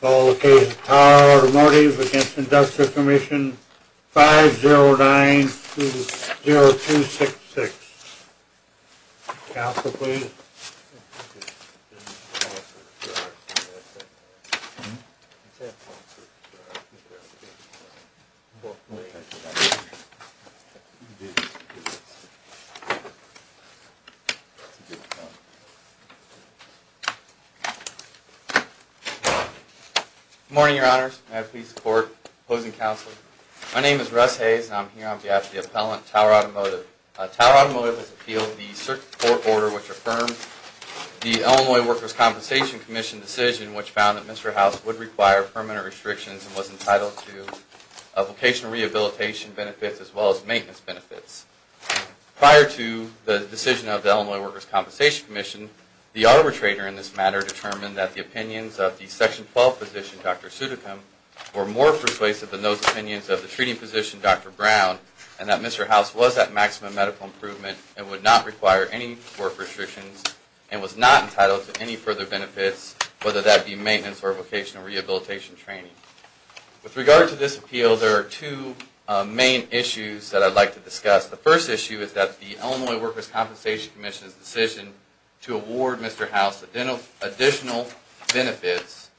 Call the case of Tower Automotive v. Inductor Commission 509-0266 Counsel, please. Good morning, Your Honors. May I please support opposing counsel. My name is Russ Hayes and I'm here on behalf of the appellant, Tower Automotive. Tower Automotive has appealed the circuit court order which affirms the Illinois Workers' Compensation Commission decision which found that Mr. House would require permanent restrictions and was entitled to vocational rehabilitation benefits as well as maintenance benefits. Prior to the decision of the Illinois Workers' Compensation Commission, the arbitrator in this matter determined that the opinions of the Section 12 physician, Dr. Sudikum, were more persuasive than those opinions of the treating physician, Dr. Brown, and that Mr. House was at maximum medical improvement and would not require any work restrictions and was not entitled to any further benefits, whether that be maintenance or vocational rehabilitation training. With regard to this appeal, there are two main issues that I'd like to discuss. The first issue is that the Illinois Workers' Compensation Commission's decision to award Mr. House additional benefits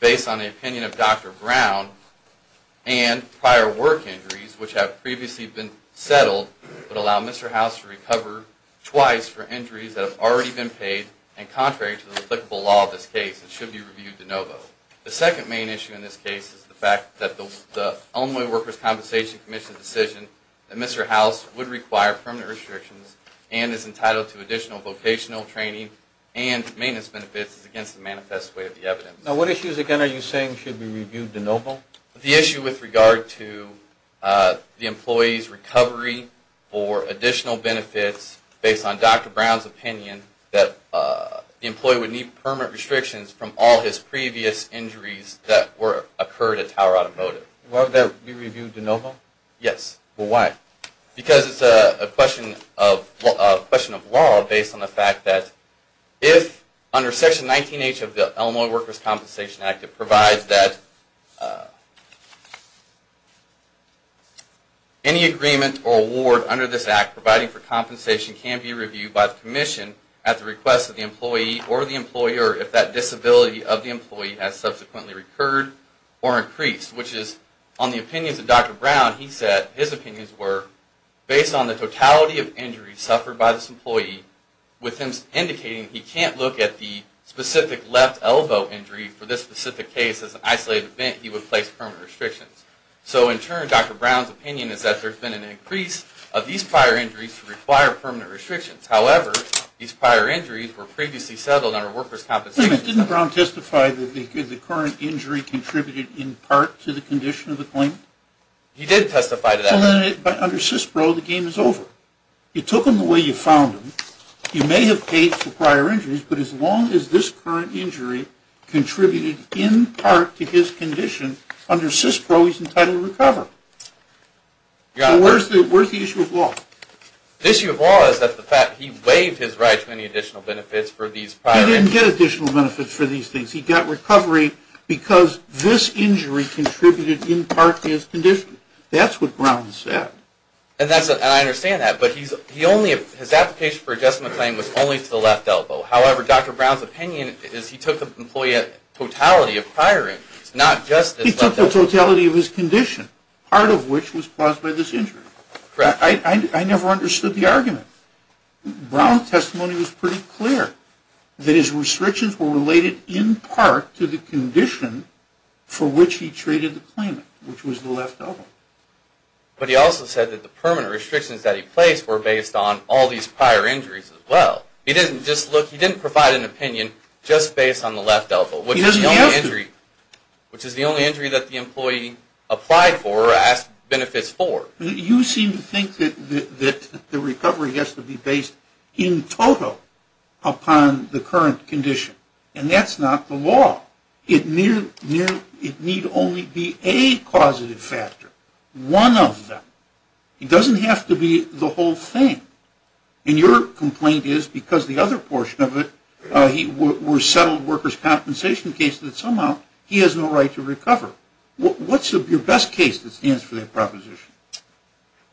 based on the opinion of Dr. Brown and prior work injuries which have previously been settled would allow Mr. House to recover twice for injuries that have already been paid and contrary to the applicable law of this case, it should be reviewed de novo. The second main issue in this case is the fact that the Illinois Workers' Compensation Commission's decision that Mr. House would require permanent restrictions and is entitled to additional vocational training and maintenance benefits is against the manifest way of the evidence. Now what issues again are you saying should be reviewed de novo? The issue with regard to the employee's recovery for additional benefits based on Dr. Brown's opinion that the employee would need permanent restrictions from all his previous injuries that occurred at Tower Automotive. Would that be reviewed de novo? Yes. Why? Because it's a question of law based on the fact that if under Section 19H of the Illinois Workers' Compensation Act it provides that any disability of the employee has subsequently recurred or increased which is on the opinions of Dr. Brown he said his opinions were based on the totality of injuries suffered by this employee with him indicating he can't look at the specific left elbow injury for this specific case as an isolated event he would place permanent restrictions. So in turn Dr. Brown's opinion is that there's been an increase of these prior injuries to require permanent restrictions. However, these prior injuries were previously settled under workers' compensation. Didn't Dr. Brown testify that the current injury contributed in part to the condition of the claimant? He did testify to that. So then under CISPRO the game is over. You took him the way you found him. You may have paid for prior injuries but as long as this current injury contributed in part to his condition under CISPRO he's entitled to recover. So where's the issue of law? The issue of law is that he waived his right to any additional benefits for these prior injuries. He didn't get additional benefits for these things. He got recovery because this injury contributed in part to his condition. That's what Brown said. And I understand that but his application for adjustment claim was only to the left elbow. However, Dr. Brown's opinion is he took the employee at totality of prior injuries not just his left elbow. He took the totality of his condition part of which was caused by this injury. I never understood the argument. Brown's testimony was pretty clear that his restrictions were related in part to the condition for which he treated the claimant which was the left elbow. But he also said that the permanent restrictions that he placed were based on all these prior injuries as well. He didn't provide an opinion just based on the left elbow which is the only injury that the employee applied for or asked benefits for. You seem to think that the recovery has to be based in total upon the current condition and that's not the law. It need only be a causative factor, one of them. It doesn't have to be the whole thing. And your complaint is because the other portion of it were settled workers' compensation cases that somehow he has no right to recover. What's your best case that stands for that proposition?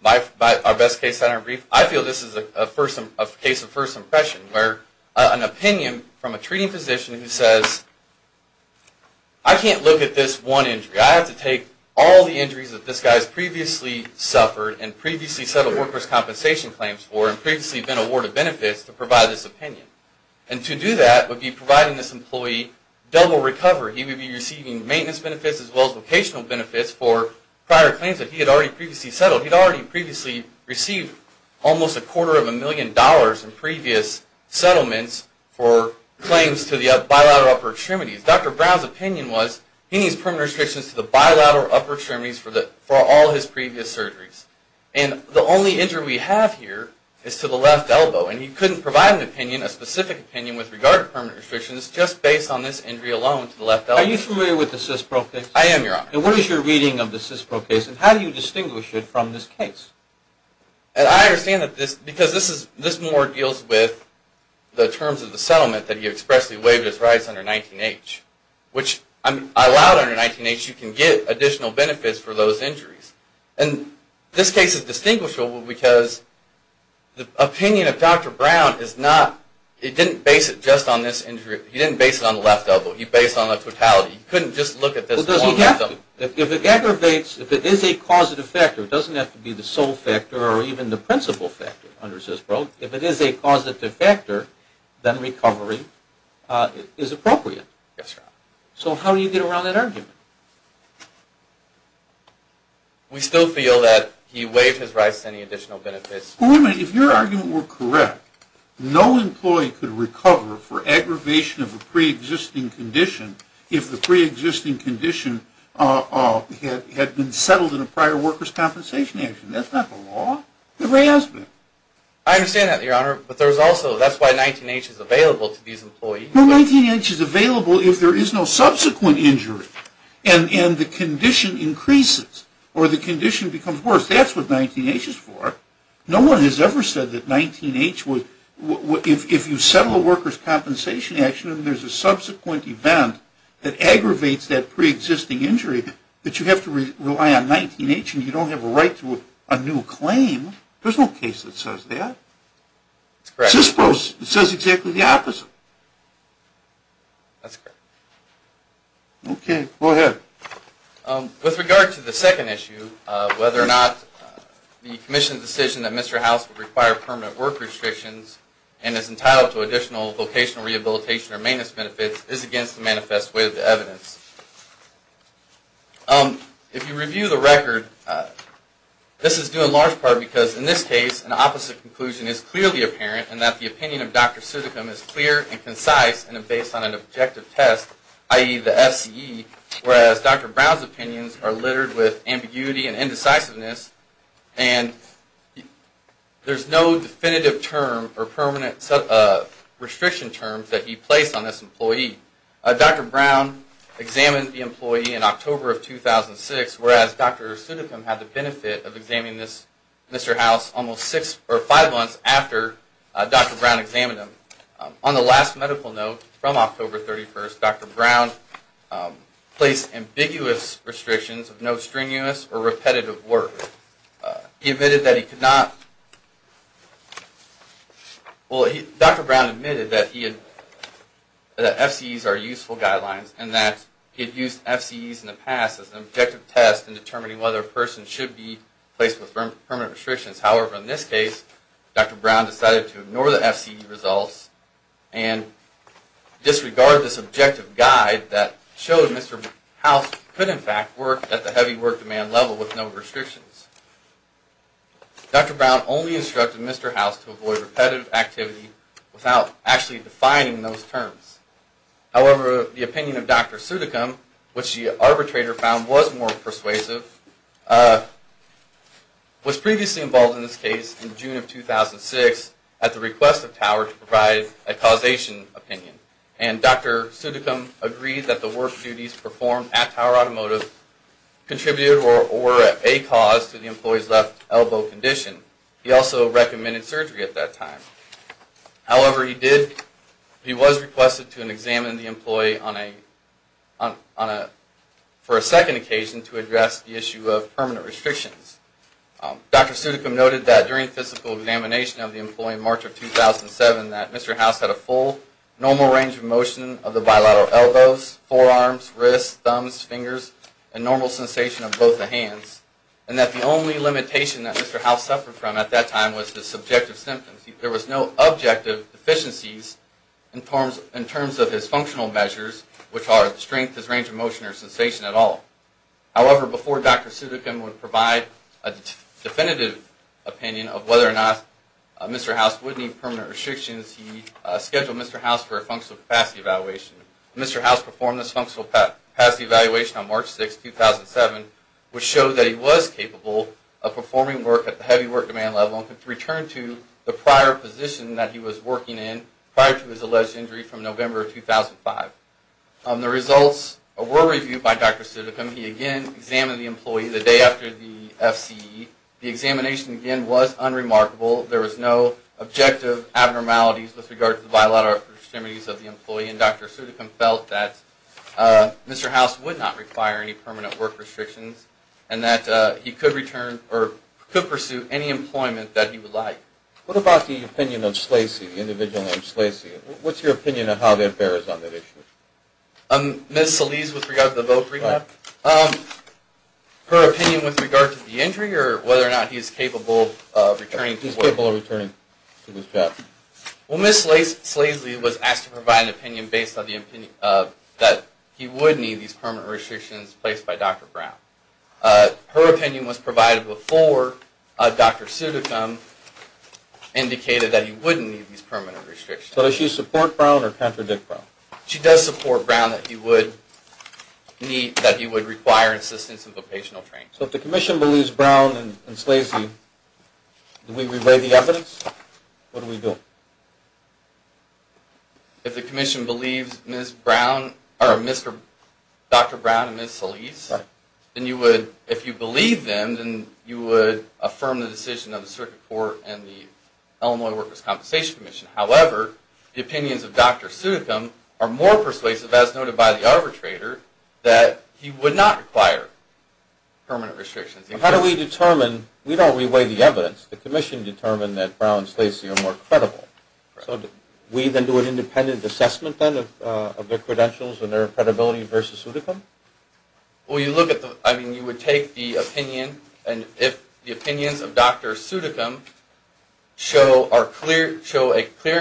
My best case, I feel this is a case of first impression where an opinion from a treating physician who says, I can't look at this one injury. I have to take all the injuries that this guy has previously suffered and previously settled workers' compensation claims for and previously been awarded benefits to provide this opinion. And to do that would be providing this employee double recovery. He would be receiving maintenance benefits as well as vocational benefits for prior claims that he had already previously settled. He'd already previously received almost a quarter of a million dollars in previous settlements for claims to the bilateral upper extremities. Dr. Brown's opinion was he needs permanent restrictions to the bilateral upper extremities for all his previous surgeries. And the only injury we have here is to the left elbow. And he couldn't provide an opinion, a specific opinion with regard to permanent restrictions just based on this injury alone to the left elbow. Are you familiar with the CISPRO case? I am, Your Honor. And what is your reading of the CISPRO case and how do you distinguish it from this case? And I understand that this, because this is, this more deals with the terms of the settlement that he expressly waived his rights under 19-H. Which I'm, I allowed under 19-H you can get additional benefits for those injuries. And this case is distinguishable because the opinion of Dr. Brown is not, he didn't base it just on this injury. He didn't base it on the left elbow. He based it on the totality. He couldn't just look at this one left elbow. If it aggravates, if it is a causative factor, it doesn't have to be the sole factor or even the principal factor under CISPRO. If it is a causative factor, then recovery is appropriate. Yes, Your Honor. So how do you get around that argument? We still feel that he waived his rights to any additional benefits. Well, wait a minute. If your argument were correct, no employee could recover for aggravation of a pre-existing condition if the pre-existing condition had been settled in a prior worker's compensation action. That's not the law. There has been. I understand that, Your Honor. But there's also, that's why 19-H is available to these employees. Well, 19-H is available if there is no subsequent injury and the condition increases or the condition becomes worse. That's what 19-H is for. No one has ever said that 19-H would, if you settle a worker's compensation action and there's a subsequent event that aggravates that pre-existing injury, that you have to rely on 19-H and you don't have a right to a new claim. There's no case that says that. It's correct. It says exactly the opposite. That's correct. OK. Go ahead. With regard to the second issue, whether or not the commission's decision that Mr. House would require permanent work restrictions and is entitled to additional vocational rehabilitation or maintenance benefits is against the manifest way of the evidence, if you review the record, this is due in large part because in this case, an opposite conclusion is clearly apparent and that the opinion of Dr. Sutticum is clear and concise and based on an objective test, i.e., the FCE, whereas Dr. Brown's opinions are littered with ambiguity and indecisiveness and there's no definitive term or permanent restriction term that he placed on this employee. Dr. Brown examined the employee in October of 2006, whereas Dr. Sutticum had the benefit of examining this Mr. House almost six or five months after Dr. Brown examined him. On the last medical note from October 31st, Dr. Brown placed ambiguous restrictions of no strenuous or repetitive work. He admitted that he could not – well, Dr. Brown admitted that FCEs are useful guidelines and that he had used FCEs in the past as an objective test in determining whether a person should be placed with permanent restrictions. However, in this case, Dr. Brown decided to ignore the FCE results and disregard this objective guide that showed Mr. House could, in fact, work at the heavy work demand level with no restrictions. Dr. Brown only instructed Mr. House to avoid repetitive activity without actually defining those terms. However, the opinion of Dr. Sutticum, which the arbitrator found was more persuasive, was previously involved in this case in June of 2006 at the request of Tower to provide a causation opinion. And Dr. Sutticum agreed that the work duties performed at Tower Automotive contributed or were a cause to the employee's left elbow condition. He also recommended surgery at that time. However, he did – he was requested to examine the employee on a – for a second occasion to address the issue of permanent restrictions. Dr. Sutticum noted that during physical examination of the employee in March of 2007 that Mr. House had a full, normal range of motion of the bilateral elbows, forearms, wrists, thumbs, fingers, and normal sensation of both the hands. And that the only limitation that Mr. House suffered from at that time was the subjective symptoms. There was no objective deficiencies in terms of his functional measures, which are strength, his range of motion, or sensation at all. However, before Dr. Sutticum would provide a definitive opinion of whether or not Mr. House would need permanent restrictions, he scheduled Mr. House for a functional capacity evaluation. Mr. House performed this functional capacity evaluation on March 6, 2007, which showed that he was capable of performing work at the heavy work demand level and could return to the prior position that he was working in prior to his alleged injury from November of 2005. The results were reviewed by Dr. Sutticum. He again examined the employee the day after the FCE. The examination, again, was unremarkable. There was no objective abnormalities with regard to the bilateral extremities of the employee. And Dr. Sutticum felt that Mr. House would not require any permanent work restrictions and that he could return or could pursue any employment that he would like. What about the opinion of Slacey, the individual named Slacey? What's your opinion on how that bears on that issue? Ms. Solis, with regard to the vote, read that. Her opinion with regard to the injury or whether or not he's capable of returning to work? He's capable of returning to his job. Well, Ms. Slacey was asked to provide an opinion based on the opinion that he would need these permanent restrictions placed by Dr. Brown. Her opinion was provided before Dr. Sutticum indicated that he wouldn't need these permanent restrictions. So does she support Brown or contradict Brown? She does support Brown that he would need, that he would require assistance in vocational training. So if the Commission believes Brown and Slacey, do we relay the evidence? What do we do? If the Commission believes Ms. Brown, or Dr. Brown and Ms. Solis, then you would, if you believe them, then you would affirm the decision of the Circuit Court and the Illinois Workers' Compensation Commission. However, the opinions of Dr. Sutticum are more persuasive, as noted by the arbitrator, that he would not require permanent restrictions. How do we determine, we don't relay the evidence, the Commission determined that Brown and Slacey are more credible. So we then do an independent assessment then of their credentials and their credibility versus Sutticum? Well, you look at the, I mean, you would take the opinion, and if the opinions of Dr. Sutticum show a clear,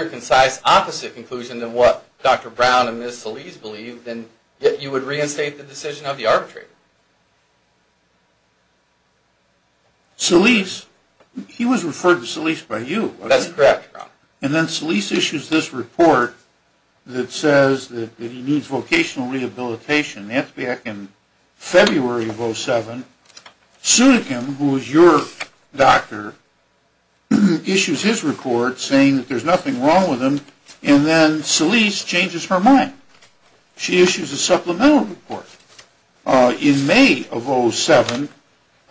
concise, opposite conclusion than what Dr. Brown and Ms. Solis believe, then you would reinstate the decision of the arbitrator. Solis, he was referred to Solis by you. That's correct. And then Solis issues this report that says that he needs vocational rehabilitation. That's back in February of 2007. Sutticum, who was your doctor, issues his report saying that there's nothing wrong with him, and then Solis changes her mind. She issues a supplemental report. In May of 2007,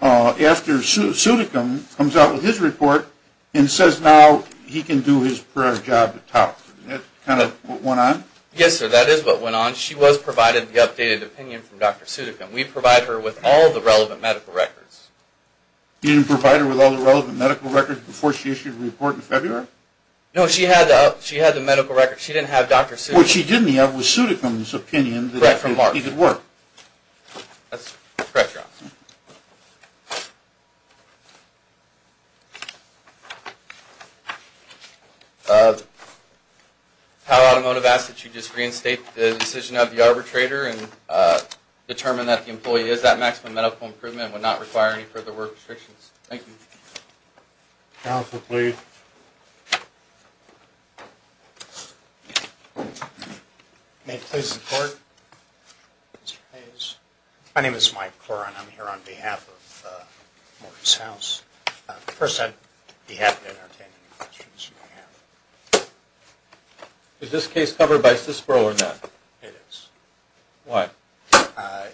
after Sutticum comes out with his report and says now he can do his prior job at TOP, isn't that kind of what went on? Yes, sir, that is what went on. She was provided the updated opinion from Dr. Sutticum. We provide her with all the relevant medical records. You didn't provide her with all the relevant medical records before she issued the report in February? No, she had the medical records. She didn't have Dr. Sutticum's. So it was Sutticum's opinion that he could work. Correct, your honor. Powell Automotive asks that you just reinstate the decision of the arbitrator and determine that the employee is at maximum medical improvement and would not require any further work restrictions. Thank you. Counsel, please. May it please the court? My name is Mike Corwin. I'm here on behalf of Morgan's House. First, I'd be happy to entertain any questions you may have. Is this case covered by SISBRO or not? It is. Why?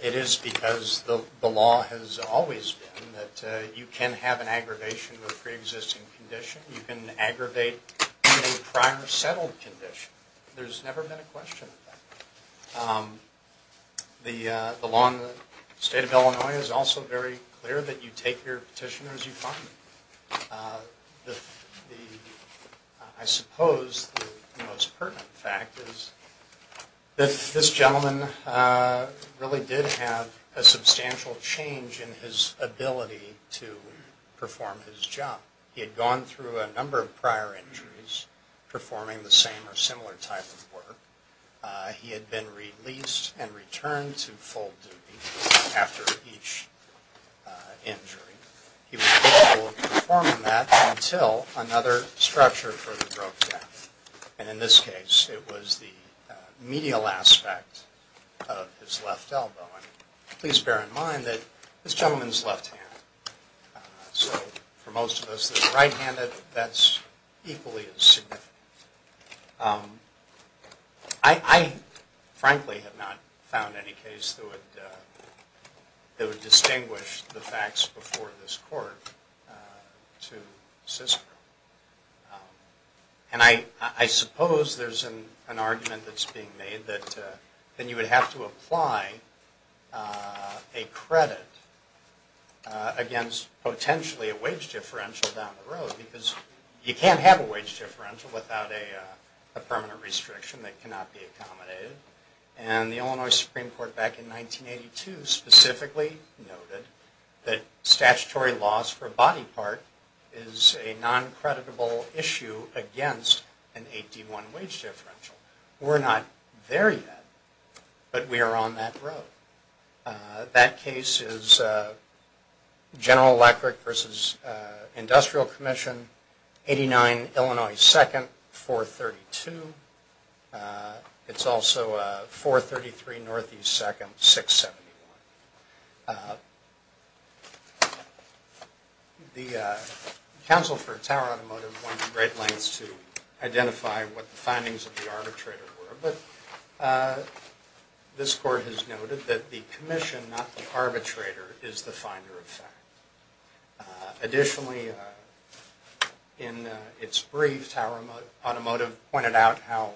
It is because the law has always been that you can have an aggravation of a pre-existing condition. You can aggravate a prior settled condition. There's never been a question of that. The law in the state of Illinois is also very clear that you take your petitioner as you find them. I suppose the most pertinent fact is that this gentleman really did have a substantial change in his ability to perform his job. He had gone through a number of prior injuries performing the same or similar type of work. He had been released and returned to full duty after each injury. He was capable of performing that until another structure further broke down. And in this case, it was the medial aspect of his left elbow. And please bear in mind that this gentleman's left hand. So for most of us, the right-handed, that's equally as significant. I frankly have not found any case that would distinguish the facts before this court to SISBRO. And I suppose there's an argument that's being made that then you would have to apply a credit against potentially a wage differential down the road. Because you can't have a wage differential without a permanent restriction that cannot be accommodated. And the Illinois Supreme Court back in 1982 specifically noted that statutory loss for body part is a non-creditable issue against an 8D1 wage differential. We're not there yet, but we are on that road. That case is General Electric v. Industrial Commission, 89 Illinois 2nd, 432. It's also 433 Northeast 2nd, 671. The Council for Tower Automotive went to great lengths to identify what the findings of the arbitrator were. But this court has noted that the commission, not the arbitrator, is the finder of fact. Additionally, in its brief, Tower Automotive pointed out how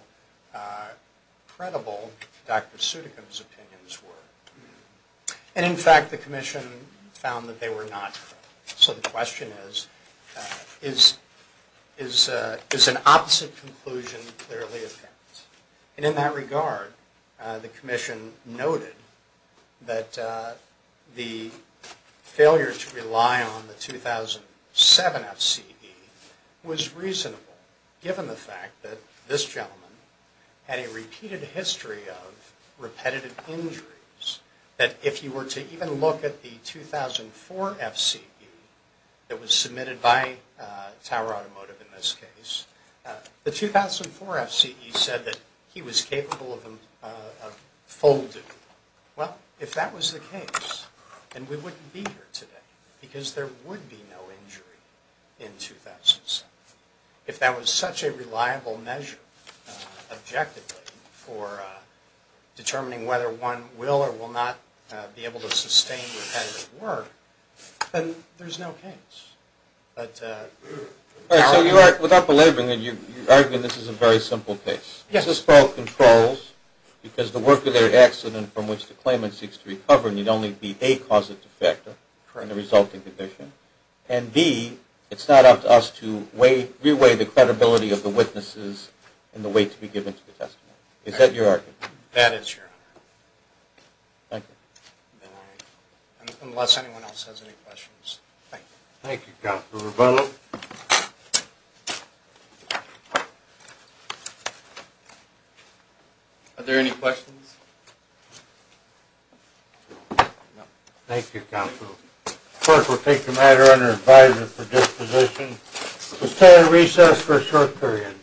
credible Dr. Sutekin's opinions were. And in fact, the commission found that they were not correct. So the question is, is an opposite conclusion clearly a fact? And in that regard, the commission noted that the failure to rely on the 2007 FCE was reasonable, given the fact that this gentleman had a repeated history of repetitive injuries. That if you were to even look at the 2004 FCE that was submitted by Tower Automotive in this case, the 2004 FCE said that he was capable of a full duty. Well, if that was the case, then we wouldn't be here today, because there would be no injury in 2007. If that was such a reliable measure, objectively, for determining whether one will or will not be able to sustain repetitive work, then there's no case. All right, so you are, without belaboring it, you're arguing this is a very simple case? Yes. Is this by all controls? Because the work of their accident, from which the claimant seeks to recover, need only be, A, cause it to factor in the resulting condition, and B, it's not up to us to re-weigh the credibility of the witnesses in the weight to be given to the testimony. Is that your argument? That is, Your Honor. Thank you. All right. Unless anyone else has any questions. Thank you. Thank you, Counsel Rebello. Are there any questions? No. Thank you, Counsel. Clerk will take the matter under advisory for disposition. We'll stay on recess for a short period.